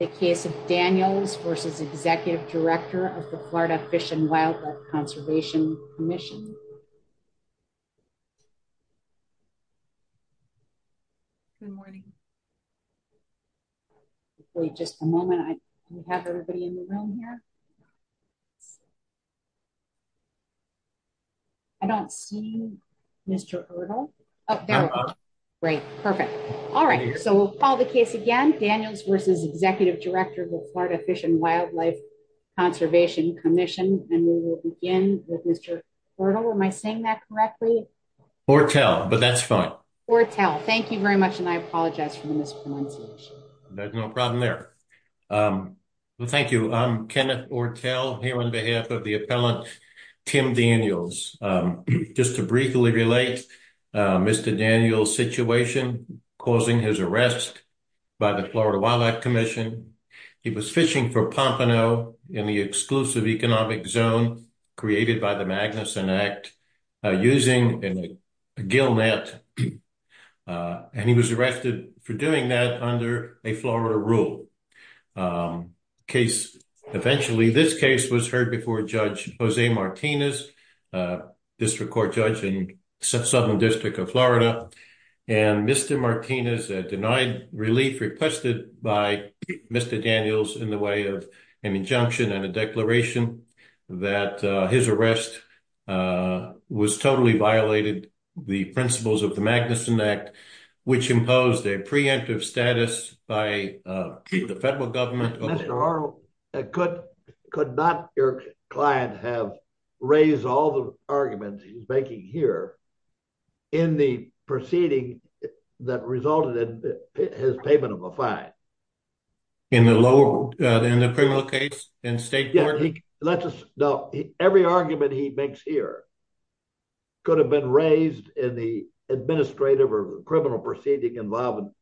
the case of Daniels v. Executive Director of the Florida Fish and Wildlife Conservation Commission. Good morning. Wait just a moment. I have everybody in the room here. I don't see Mr. Erdl. Oh, there we go. Great. Perfect. All right. So we'll call the case again. Mr. Daniels v. Executive Director of the Florida Fish and Wildlife Conservation Commission. And we will begin with Mr. Erdl. Am I saying that correctly? Ortel, but that's fine. Ortel, thank you very much and I apologize for the mispronunciation. There's no problem there. Well, thank you. I'm Kenneth Ortel here on behalf of the appellant Tim Daniels. Just to briefly relate Mr. Daniels' situation causing his arrest by the Florida Wildlife Commission. He was fishing for pompano in the exclusive economic zone created by the Magnuson Act using a gill net and he was arrested for doing that under a Florida rule. Eventually, this case was heard before Judge Jose Martinez, a district court judge in Southern District of Florida. And Mr. Martinez denied relief requested by Mr. Daniels in the way of an injunction and a declaration that his arrest was totally violated the principles of Magnuson Act which imposed a preemptive status by the federal government. Mr. Erdl, could not your client have raised all the arguments he's making here in the proceeding that resulted in his payment of a fine? In the lower, in the criminal case in state court? No, every argument he makes here could have been raised in the administrative or criminal proceeding involving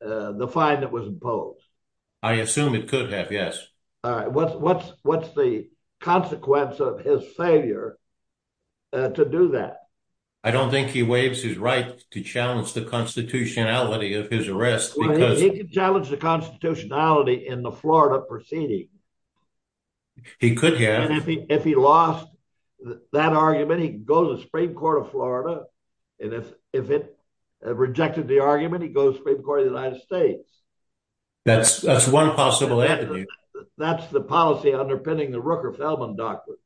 the fine that was imposed. I assume it could have, yes. All right. What's the consequence of his failure to do that? I don't think he waives his right to challenge the constitutionality of his arrest. He could challenge the constitutionality in the Florida proceeding. He could have. And if he lost that argument, he could go to the Supreme Court of Florida. And if it rejected the argument, he goes to the Supreme Court of the United States. That's one possible avenue. That's the policy underpinning the Rooker-Feldman doctrine.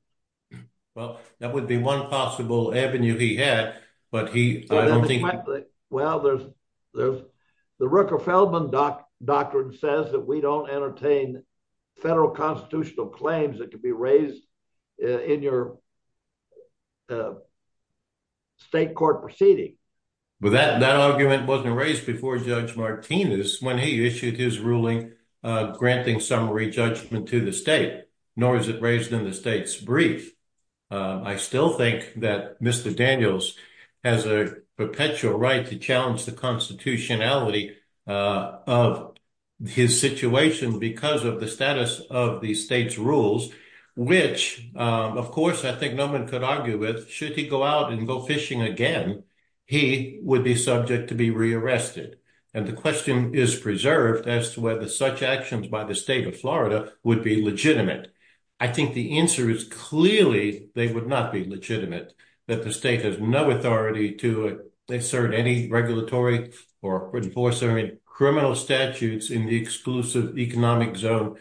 Well, that would be one possible avenue he had, but he, I don't think. Well, the Rooker-Feldman doctrine says that we don't entertain federal constitutional claims that could be raised in your state court proceeding. But that argument wasn't raised before Judge Martinez when he issued his ruling granting summary judgment to the state, nor is it raised in the state's brief. I still think that Mr. Daniels has a perpetual right to challenge the constitutionality of his situation because of the status of the state's rules, which, of course, I think no one could argue with. Should he go out and go fishing again, he would be subject to be rearrested. And the question is preserved as to whether such actions by the state of Florida would be legitimate. I think the answer is clearly they would not be legitimate, that the state has no authority to assert any regulatory or enforcer in criminal statutes in the exclusive economic zone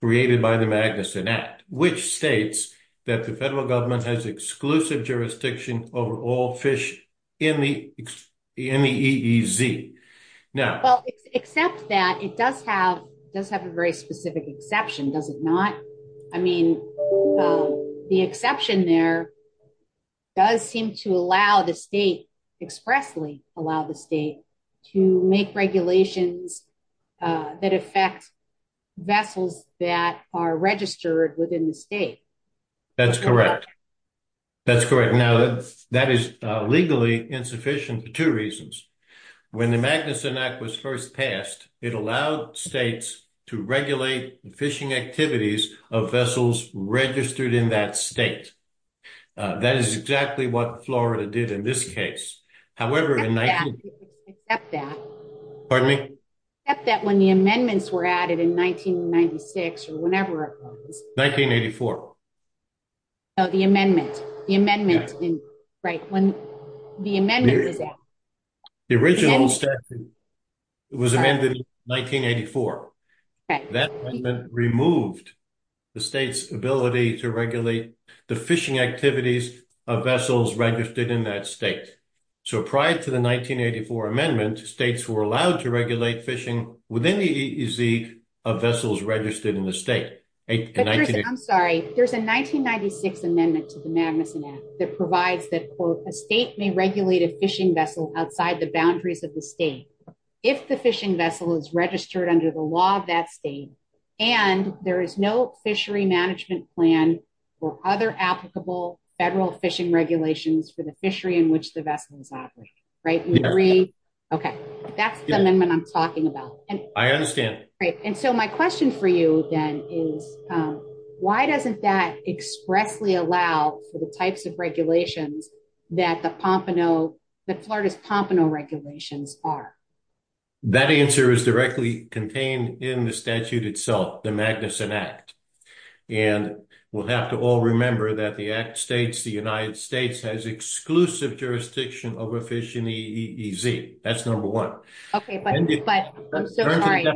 created by the Magnuson Act, which states that the federal government has exclusive jurisdiction over all fish in the EEZ. Now, well, except that it does have does have a very specific exception, does it not? I mean, the exception there does seem to allow the state expressly allow the state to make regulations that affect vessels that are registered within the state. That's correct. That's correct. That is legally insufficient for two reasons. When the Magnuson Act was first passed, it allowed states to regulate the fishing activities of vessels registered in that state. That is exactly what Florida did in this case. However, except that when the amendments were added in 1996 or whenever it was. Oh, the amendment, the amendment, right, when the amendment was added. The original statute was amended in 1984. That amendment removed the state's ability to regulate the fishing activities of vessels registered in that state. So prior to the 1984 amendment, states were allowed to regulate fishing within the EEZ of vessels registered in the state. I'm sorry. There's a 1996 amendment to the Magnuson Act that provides that a state may regulate a fishing vessel outside the boundaries of the state if the fishing vessel is registered under the law of that state and there is no fishery management plan or other applicable federal fishing regulations for the fishery in which the vessel is operated. Right. OK, that's the amendment I'm talking about. And I understand. And so my question for you, then, is why doesn't that expressly allow for the types of regulations that the Pompano, the Florida's Pompano regulations are? That answer is directly contained in the statute itself, the Magnuson Act. And we'll have to all remember that the act states the United States has exclusive jurisdiction over fishing in the EEZ. That's number one. OK, but I'm so sorry.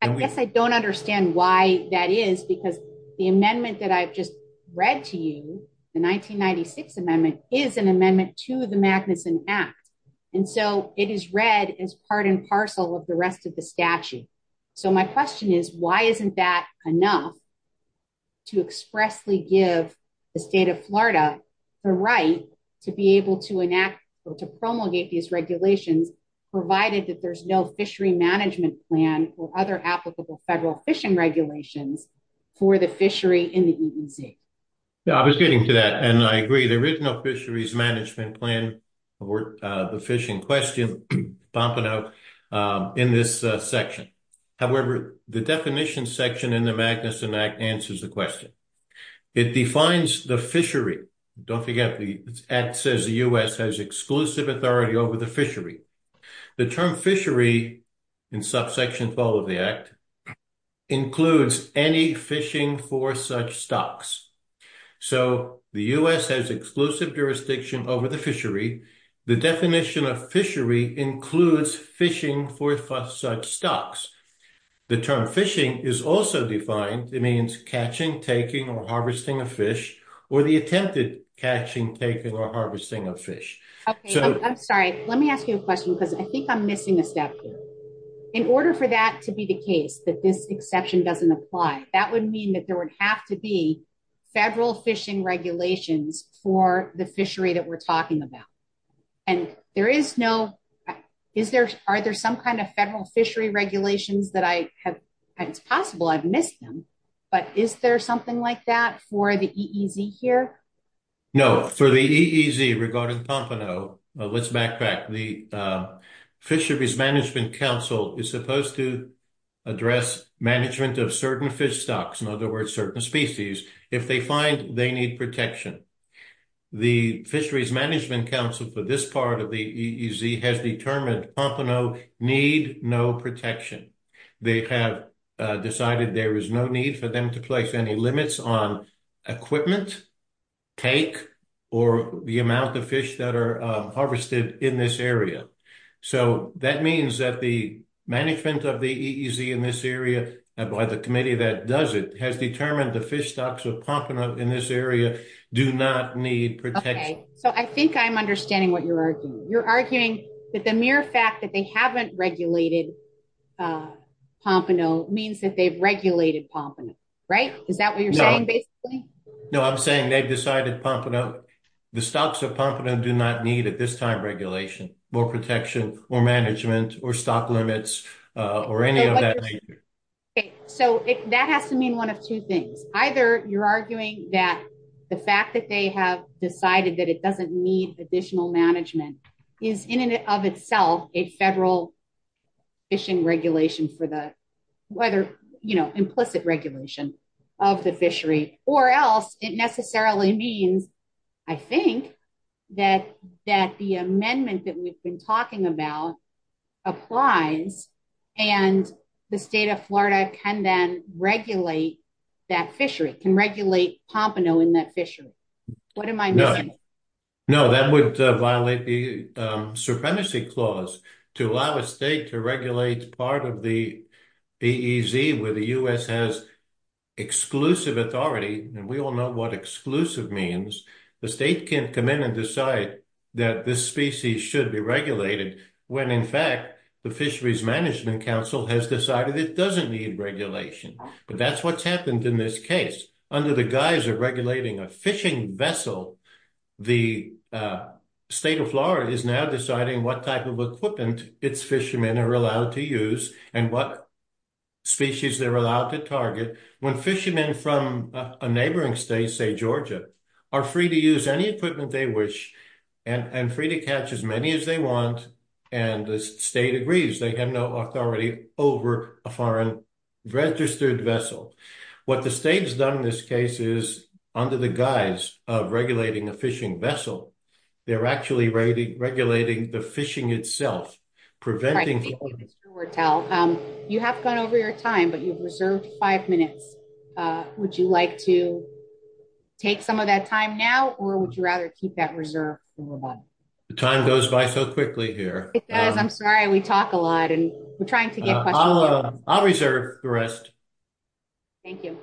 I guess I don't understand why that is, because the amendment that I've just read to you, the 1996 amendment is an amendment to the Magnuson Act. And so it is read as part and parcel of the rest of the statute. So my question is, why isn't that enough? To expressly give the state of Florida the right to be able to enact or to promulgate these regulations, provided that there's no fishery management plan or other applicable federal fishing regulations for the fishery in the EEZ. I was getting to that, and I agree. The original fisheries management plan for the fishing question, Pompano, in this section. However, the definition section in the Magnuson Act answers the question. It defines the fishery. Don't forget, the act says the U.S. has exclusive authority over the fishery. The term fishery in subsection 12 of the act includes any fishing for such stocks. So the U.S. has exclusive jurisdiction over the fishery. The definition of fishery includes fishing for such stocks. The term fishing is also defined. It means catching, taking, or harvesting a fish, or the attempted catching, taking, or harvesting of fish. I'm sorry. Let me ask you a question, because I think I'm missing a step here. In order for that to be the case, that this exception doesn't apply, that would mean that there would have to be federal fishing regulations for the fishery that we're talking about. And there is no, is there, are there some kind of federal fishery regulations that I have, it's possible I've missed them. But is there something like that for the EEZ here? No, for the EEZ regarding Pompano, let's backtrack. The Fisheries Management Council is supposed to address management of certain fish stocks, in other words, certain species, if they find they need protection. The Fisheries Management Council for this part of the EEZ has determined Pompano need no protection. They have decided there is no need for them to place any limits on equipment, take, or the amount of fish that are harvested in this area. So that means that the management of the EEZ in this area, by the committee that does it, has determined the fish stocks of Pompano in this area do not need protection. So I think I'm understanding what you're arguing. You're arguing that the mere fact that they haven't regulated Pompano means that they've regulated Pompano, right? Is that what you're saying, basically? No, I'm saying they've decided Pompano, the stocks of Pompano do not need at this time regulation, more protection, more management, or stock limits, or any of that nature. So that has to mean one of two things. Either you're arguing that the fact that they have decided that it doesn't need additional management is in and of itself a federal fishing regulation for the weather, you know, implicit regulation of the fishery. Or else it necessarily means, I think, that the amendment that we've been talking about applies and the state of Florida can then regulate that fishery, can regulate Pompano in that fishery. What am I missing? No, that would violate the supremacy clause to allow a state to regulate part of the EEZ where the U.S. has exclusive authority. And we all know what exclusive means. The state can come in and decide that this species should be regulated when, in fact, the Fisheries Management Council has decided it doesn't need regulation. But that's what's happened in this case. Under the guise of regulating a fishing vessel, the state of Florida is now deciding what type of equipment its fishermen are allowed to use and what species they're allowed to When fishermen from a neighboring state, say Georgia, are free to use any equipment they wish and free to catch as many as they want, and the state agrees, they have no authority over a foreign registered vessel. What the state has done in this case is, under the guise of regulating a fishing vessel, they're actually regulating the fishing itself, preventing You have gone over your time, but you've reserved five minutes. Would you like to take some of that time now or would you rather keep that reserved? The time goes by so quickly here. It does. I'm sorry. We talk a lot and we're trying to get questions. I'll reserve the rest. Thank you.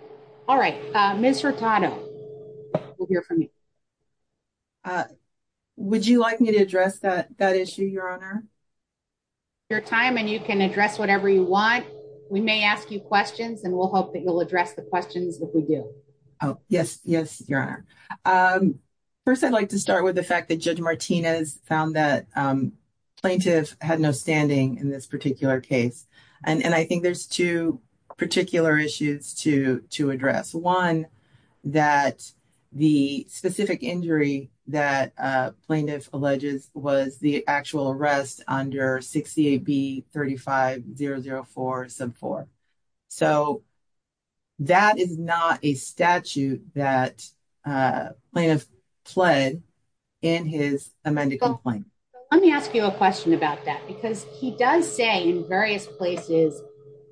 All right. Ms. Hurtado will hear from you. Would you like me to address that issue, Your Honor? Your time and you can address whatever you want. We may ask you questions and we'll hope that you'll address the questions if we do. Oh, yes. Yes, Your Honor. First, I'd like to start with the fact that Judge Martinez found that plaintiff had no standing in this particular case. And I think there's two particular issues to address. One, that the specific injury that plaintiff alleges was the actual arrest under 68B-35-004-4. So that is not a statute that plaintiff pled in his amended complaint. Let me ask you a question about that, because he does say in various places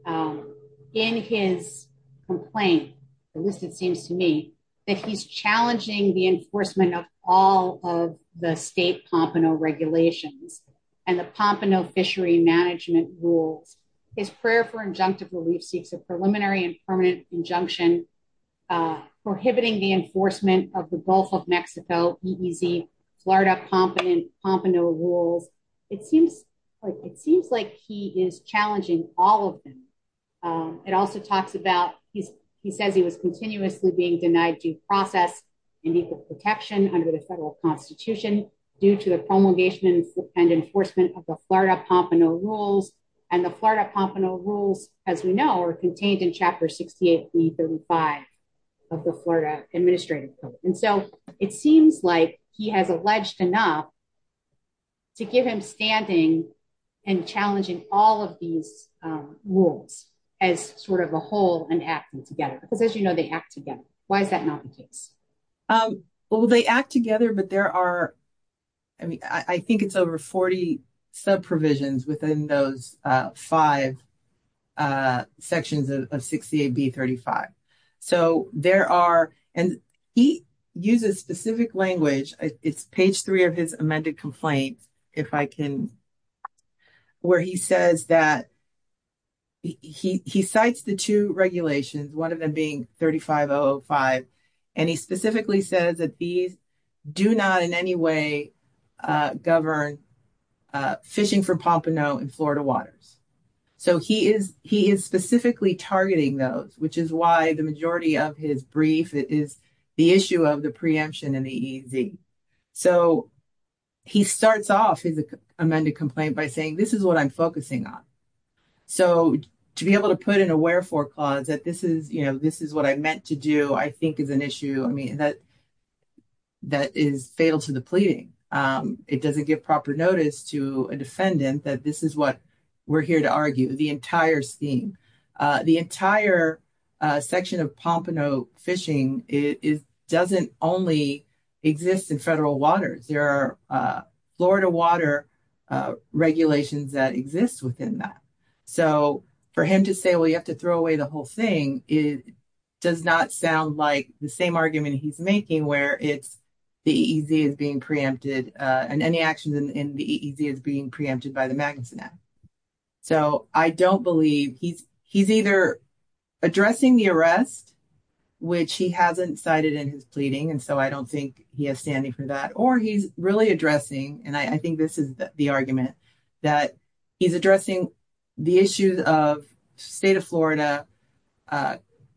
in his complaint, at least it seems to me, that he's challenging the enforcement of all of the state Pompano regulations and the Pompano fishery management rules. His prayer for injunctive relief seeks a preliminary and permanent injunction prohibiting the enforcement of the Gulf of Mexico, Florida Pompano rules. It seems like he is challenging all of them. It also talks about he says he was continuously being denied due process and equal protection under the federal constitution due to the promulgation and enforcement of the Florida Pompano rules. And the Florida Pompano rules, as we know, are contained in Chapter 68B-35 of the Florida Administrative Code. And so it seems like he has alleged enough to give him standing and challenging all of these rules as sort of a whole and acting together. Because as you know, they act together. Why is that not the case? Well, they act together, but there are, I mean, I think it's over 40 sub-provisions within those five sections of 68B-35. So there are, and he uses specific language. It's page three of his amended complaint, if I can, where he says that he cites the two regulations, one of them being 35-005, and he specifically says that these do not in any way govern fishing for Pompano in Florida waters. So he is specifically targeting those, which is why the majority of his brief is the issue of the preemption and the EZ. So he starts off his amended complaint by saying, this is what I'm focusing on. So to be able to put in a wherefore clause that this is what I meant to do, I think is an issue, I mean, that is fatal to the pleading. It doesn't give proper notice to a defendant that this is what we're here to argue, the entire scheme. The entire section of Pompano fishing doesn't only exist in federal waters. There are Florida water regulations that exist within that. So for him to say, well, you have to throw away the whole thing, it does not sound like the same argument he's making where it's the EZ is being preempted and any actions in the EZ is being preempted by the Magnuson Act. So I don't believe he's either addressing the arrest, which he hasn't cited in his pleading, and so I don't think he has standing for that, or he's really addressing, and I think this is the argument, that he's addressing the issues of the state of Florida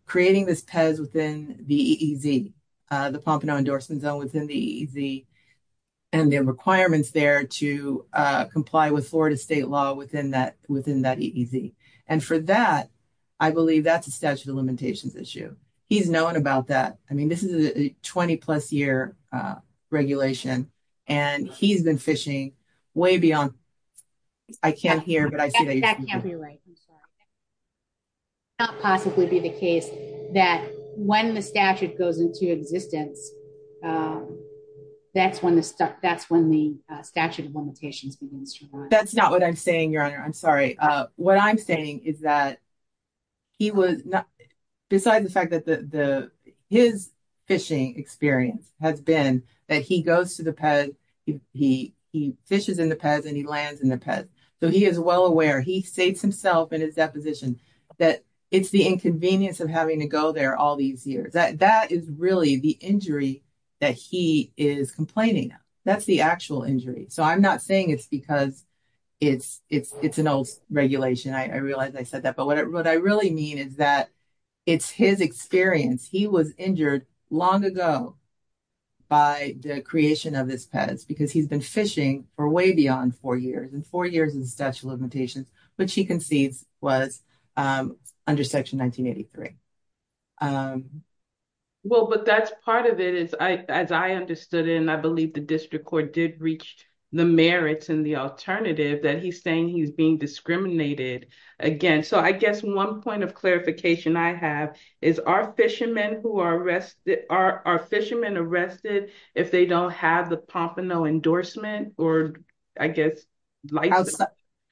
creating this PEZ within the EZ, the Pompano endorsement zone within the EZ, and the requirements there to comply with Florida state law within that EZ. And for that, I believe that's a statute of limitations issue. He's known about that. I mean, this is a 20 plus year regulation, and he's been fishing way beyond, I can't hear, but I see that you're speaking. It would not possibly be the case that when the statute goes into existence, that's when the statute of limitations begins to apply. That's not what I'm saying, Your Honor, I'm sorry. What I'm saying is that he was, besides the fact that his fishing experience has been that he goes to the PEZ, he fishes in the PEZ, and he lands in the PEZ, so he is well in that position, that it's the inconvenience of having to go there all these years. That is really the injury that he is complaining about. That's the actual injury. So I'm not saying it's because it's an old regulation. I realize I said that, but what I really mean is that it's his experience. He was injured long ago by the creation of this PEZ because he's been fishing for way beyond four years, and four years in statute of limitations, which he concedes was under section 1983. Well, but that's part of it, as I understood it, and I believe the district court did reach the merits and the alternative that he's saying he's being discriminated against. So I guess one point of clarification I have is, are fishermen arrested if they don't have the Pompano endorsement or, I guess, license?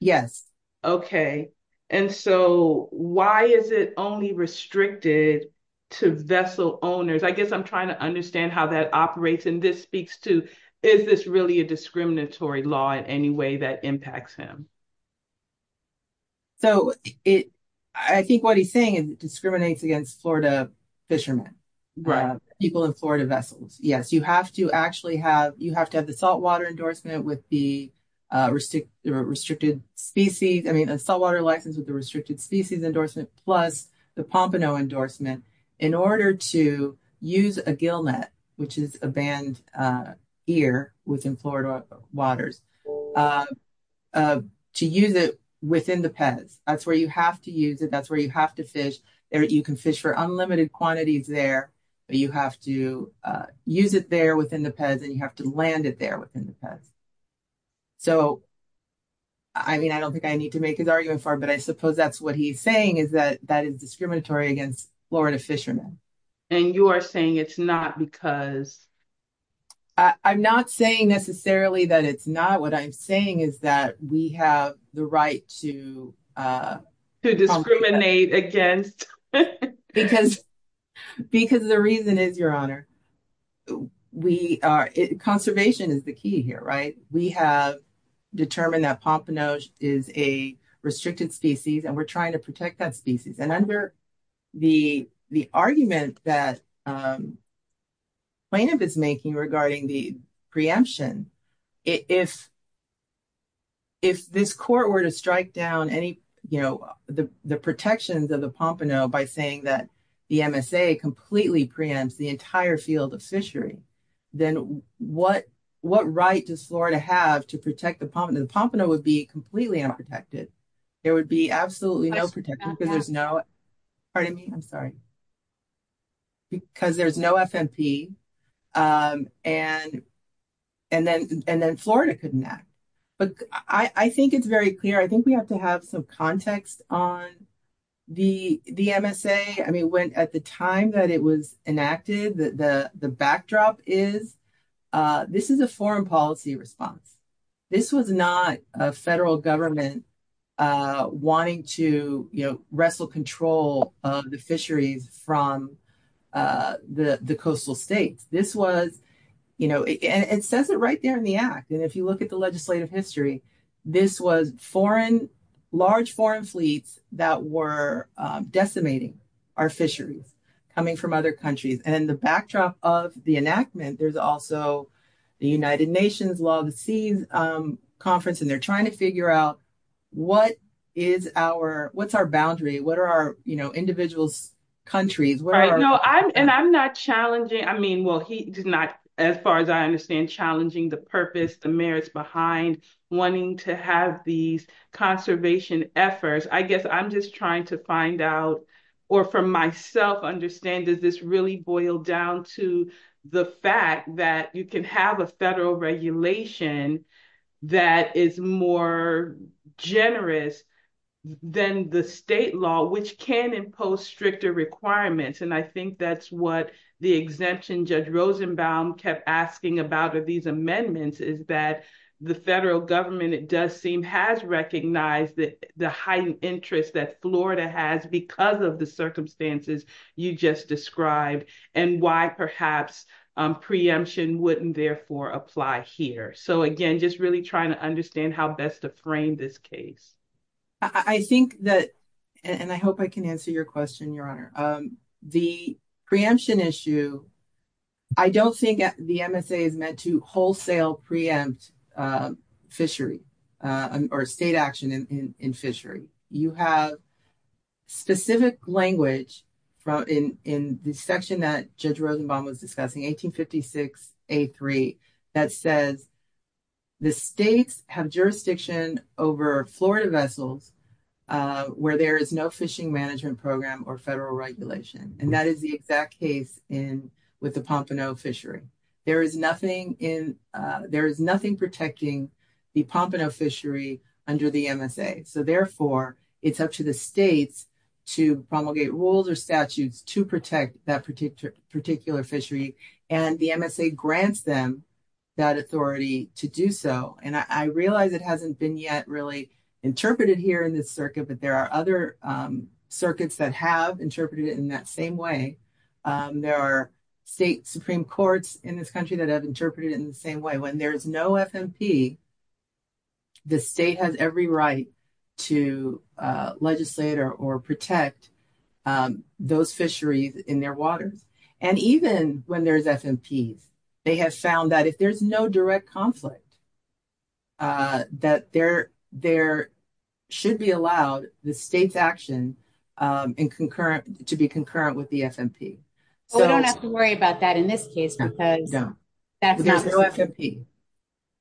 Yes. Okay, and so why is it only restricted to vessel owners? I guess I'm trying to understand how that operates, and this speaks to, is this really a discriminatory law in any way that impacts him? So I think what he's saying is it discriminates against Florida fishermen, people in Florida vessels. Yes, you have to actually have, you have to have the saltwater endorsement with the restricted species. I mean, a saltwater license with the restricted species endorsement plus the Pompano endorsement in order to use a gill net, which is a band here within Florida waters, to use it within the PEZ. That's where you have to use it. That's where you have to fish. You can fish for unlimited quantities there, but you have to use it there within the PEZ and you have to land it there within the PEZ. So, I mean, I don't think I need to make his argument for it, but I suppose that's what he's saying is that that is discriminatory against Florida fishermen. And you are saying it's not because? I'm not saying necessarily that it's not. I'm saying is that we have the right to discriminate against. Because the reason is, Your Honor, conservation is the key here, right? We have determined that Pompano is a restricted species and we're trying to protect that species. And under the argument that plaintiff is making regarding the preemption, if this court were to strike down the protections of the Pompano by saying that the MSA completely preempts the entire field of fishery, then what right does Florida have to protect the Pompano? The Pompano would be completely unprotected. There would be absolutely no protection because there's no, pardon me, I'm sorry, because there's no FMP and then Florida couldn't act. But I think it's very clear. I think we have to have some context on the MSA. I mean, at the time that it was enacted, the backdrop is this is a foreign policy response. This was not a federal government wanting to, you know, wrestle control of the fisheries from the coastal states. This was, you know, it says it right there in the act. And if you look at the legislative history, this was foreign, large foreign fleets that were decimating our fisheries coming from other countries. And the backdrop of the enactment, there's also the United Nations Law of the Seas conference, and they're trying to figure out what is our, what's our boundary? What are our, you know, individual countries? Right, no, and I'm not challenging. I mean, well, he did not, as far as I understand, challenging the purpose, the merits behind wanting to have these conservation efforts. I guess I'm just trying to find out, or for myself understand, does this really boil down to the fact that you can have a federal regulation that is more generous than the state law, which can impose stricter requirements. And I think that's what the exemption Judge Rosenbaum kept asking about these amendments is that the federal government, it does seem, has recognized that the heightened interest that Florida has because of the circumstances you just described, and why perhaps preemption wouldn't therefore apply here. So again, just really trying to understand how best to frame this case. I think that, and I hope I can answer your question, Your Honor. The preemption issue, I don't think the MSA is meant to wholesale preempt fishery, or state action in fishery. You have specific language in the section that Judge Rosenbaum was discussing, 1856A3, that says the states have jurisdiction over Florida vessels where there is no fishing management program or federal regulation. And that is the exact case with the Pompano fishery. There is nothing protecting the Pompano fishery under the MSA. So therefore, it's up to the states to promulgate rules or statutes to protect that particular fishery, and the MSA grants them that authority to do so. And I realize it hasn't been yet really interpreted here in this circuit, but there are other circuits that have interpreted it in that same way. There are state Supreme Courts in this country that have interpreted it in the same way. When there is no FMP, the state has every right to legislate or protect those fisheries in their waters. And even when there's FMPs, they have found that if there's no direct conflict, that there should be allowed the state's action to be concurrent with the FMP. But we don't have to worry about that in this case because there's no FMP.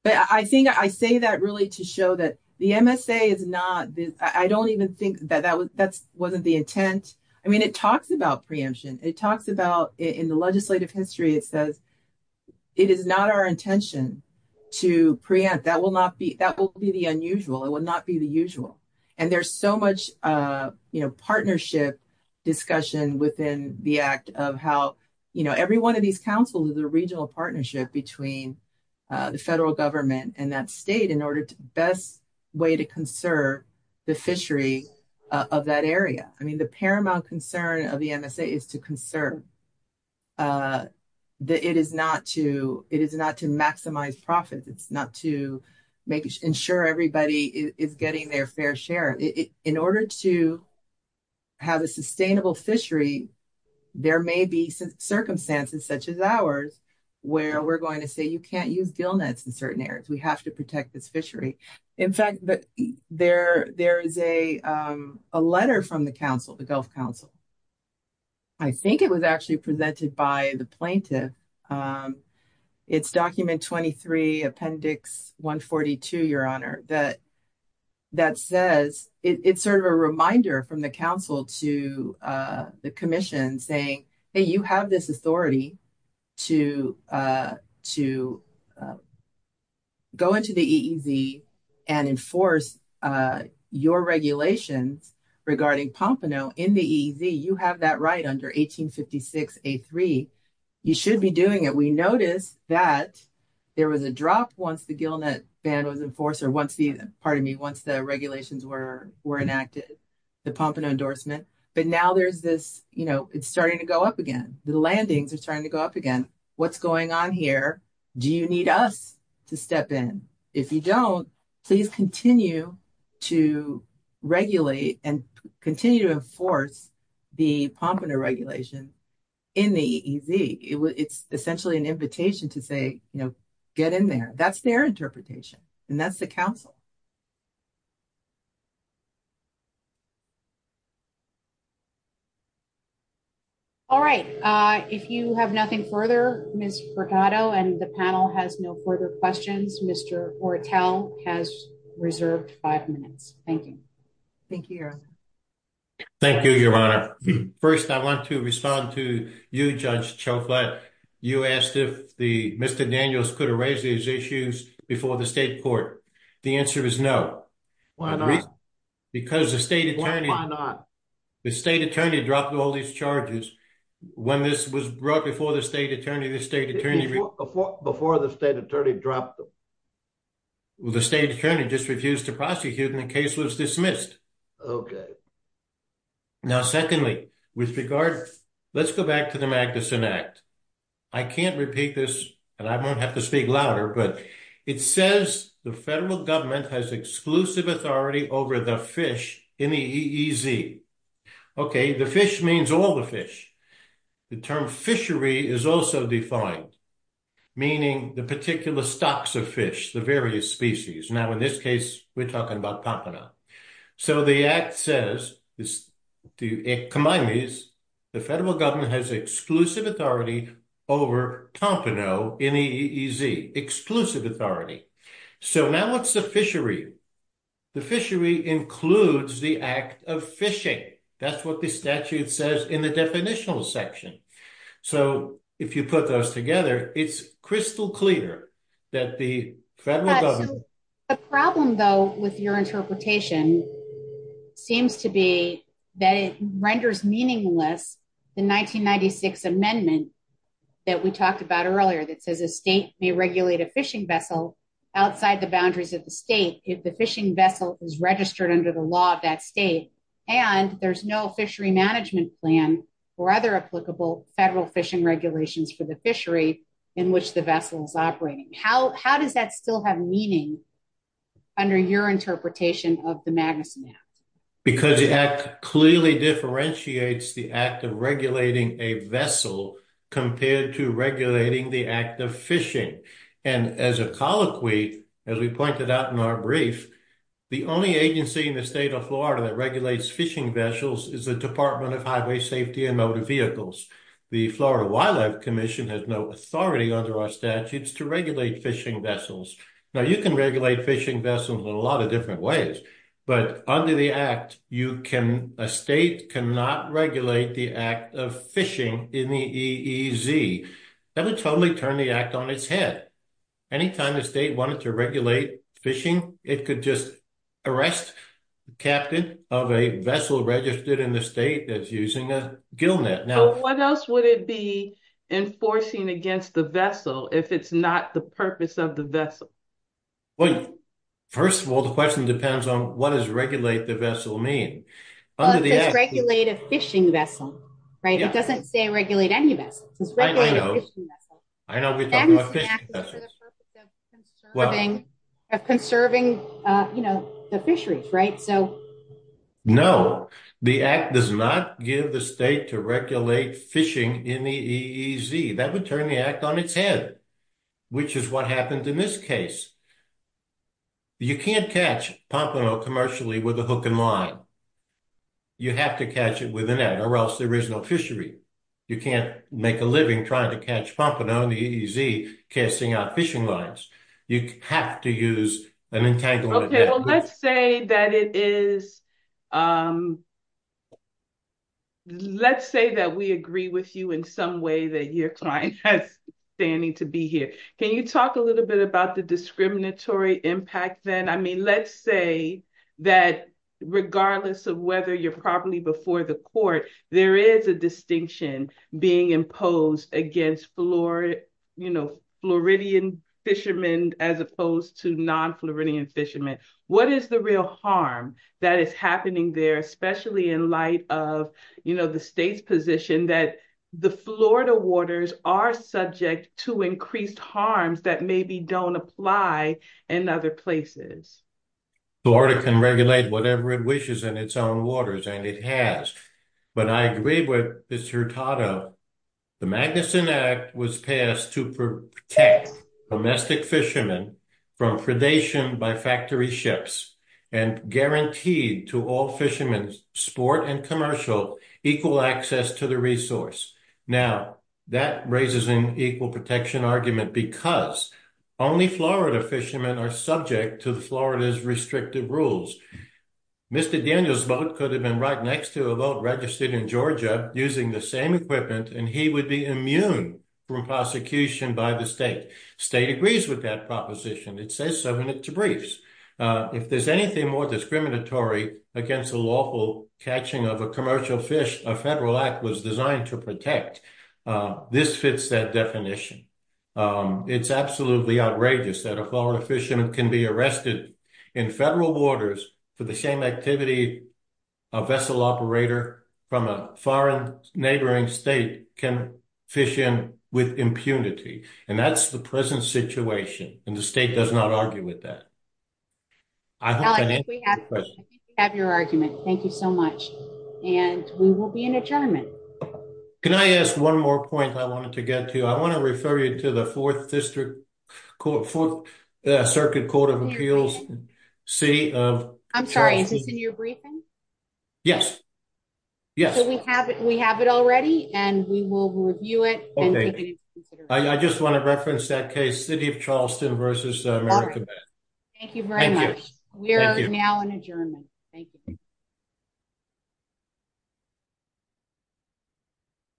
But I say that really to show that the MSA is not, I don't even think that that wasn't the intent. I mean, it talks about preemption. It talks about, in the legislative history, it says it is not our intention to preempt. That will be the unusual. It will not be the usual. And there's so much partnership discussion within the act of how every one of these councils is a regional partnership between the federal government and that state in order to best way to conserve the fishery of that area. I mean, the paramount concern of the MSA is to conserve. It is not to maximize profits. It's not to ensure everybody is getting their fair share. In order to have a sustainable fishery, there may be circumstances such as ours where we're going to say you can't use gillnets in certain areas. We have to protect this fishery. In fact, there is a letter from the council, the Gulf Council. I think it was actually presented by the plaintiff. It's document 23, appendix 142, your honor, that says it's sort of a reminder from the council to the commission saying, hey, you have this authority to go into the EEZ and enforce your regulations regarding Pompano in the EEZ. You have that right under 1856 A3. You should be doing it. We noticed that there was a drop once the regulations were enacted, the Pompano endorsement, but now it's starting to go up again. The landings are starting to go up again. What's going on here? Do you need us to step in? If you don't, please continue to regulate and continue to enforce the Pompano regulation in the EEZ. It's essentially an invitation to say, get in there. That's their interpretation, and that's the council. All right. If you have nothing further, Ms. Fregato, and the panel has no further questions, Mr. Ortel has reserved five minutes. Thank you. Thank you, your honor. Thank you, your honor. First, I want to respond to you, Judge Cioffi. You asked if Mr. Daniels could erase these issues before the state court. The answer is no. Why not? Because the state attorney dropped all these charges. When this was brought before the state attorney, the state attorney- Before the state attorney dropped them. Well, the state attorney just refused to prosecute, and the case was dismissed. Okay. Now, secondly, with regard- Let's go back to the Magnuson Act. I can't repeat this, and I won't have to speak louder, but it says the federal government has exclusive authority over the fish in the EEZ. Okay, the fish means all the fish. The term fishery is also defined, meaning the particular stocks of fish, the various species. Now, in this case, we're talking about Pompano. So the act says, combine these, the federal government has exclusive authority over Pompano in the EEZ. Exclusive authority. So now what's the fishery? The fishery includes the act of fishing. That's what the statute says in the definitional section. So if you put those together, it's crystal clear that the federal government- The problem, though, with your interpretation seems to be that it renders meaningless the 1996 amendment that we talked about earlier that says a state may regulate a fishing vessel outside the boundaries of the state if the fishing vessel is registered under the law of that state, and there's no fishery management plan or other applicable federal fishing regulations for the fishery in which the vessel is operating. How does that still have meaning under your interpretation of the Magnuson Act? Because the act clearly differentiates the act of regulating a vessel compared to regulating the act of fishing. And as a colloquy, as we pointed out in our brief, the only agency in the state of Florida that regulates fishing vessels is the Department of Highway Safety and Motor Vehicles. The Florida Wildlife Commission has no authority under our statutes to regulate fishing vessels. Now, you can regulate fishing vessels in a lot of different ways, but under the act, you can- A state cannot regulate the act of fishing in the EEZ. That would totally turn the act on its head. Anytime a state wanted to regulate fishing, it could just arrest the captain of a vessel registered in the state that's using a gillnet. What else would it be enforcing against the vessel if it's not the purpose of the vessel? Well, first of all, the question depends on what does regulate the vessel mean? Well, it says regulate a fishing vessel, right? It doesn't say regulate any vessel. It says regulate a fishing vessel. I know we're talking about fishing vessels. Magnuson Act is for the purpose of conserving the fisheries, right? No, the act does not give the state to regulate fishing in the EEZ. That would turn the act on its head, which is what happened in this case. You can't catch pompano commercially with a hook and line. You have to catch it with an egg or else there is no fishery. You can't make a living trying to catch pompano in the EEZ casting out fishing lines. You have to use an entanglement. Well, let's say that we agree with you in some way that your client has standing to be here. Can you talk a little bit about the discriminatory impact then? I mean, let's say that regardless of whether you're properly before the court, there is a distinction being imposed against Floridian fishermen as opposed to non-Floridian fishermen. What is the real harm that is happening there, especially in light of the state's position that the Florida waters are subject to increased harms that maybe don't apply in other places? Florida can regulate whatever it wishes in its own waters, and it has. But I agree with Mr. Hurtado. The Magnuson Act was passed to protect domestic fishermen from predation by factory ships and guaranteed to all fishermen, sport and commercial, equal access to the resource. Now, that raises an equal protection argument because only Florida fishermen are subject to Florida's restrictive rules. Mr. Daniel's boat could have been right next to a boat registered in Georgia using the same equipment, and he would be immune from prosecution by the state. State agrees with that proposition. It says so in its briefs. If there's anything more discriminatory against the lawful catching of a commercial fish, a federal act was designed to protect. This fits that definition. It's absolutely outrageous that a Florida fisherman can be arrested in federal waters for the same activity a vessel operator from a foreign neighboring state can fish in with impunity. And that's the present situation, and the state does not argue with that. I think we have your argument. Thank you so much. And we will be in adjournment. Can I ask one more point I wanted to get to? I want to refer you to the Fourth Circuit Court of Appeals. I'm sorry. Is this in your briefing? Yes. Yes. We have it already, and we will review it. I just want to reference that case. City of Charleston versus America. Thank you very much. We are now in adjournment. Thank you.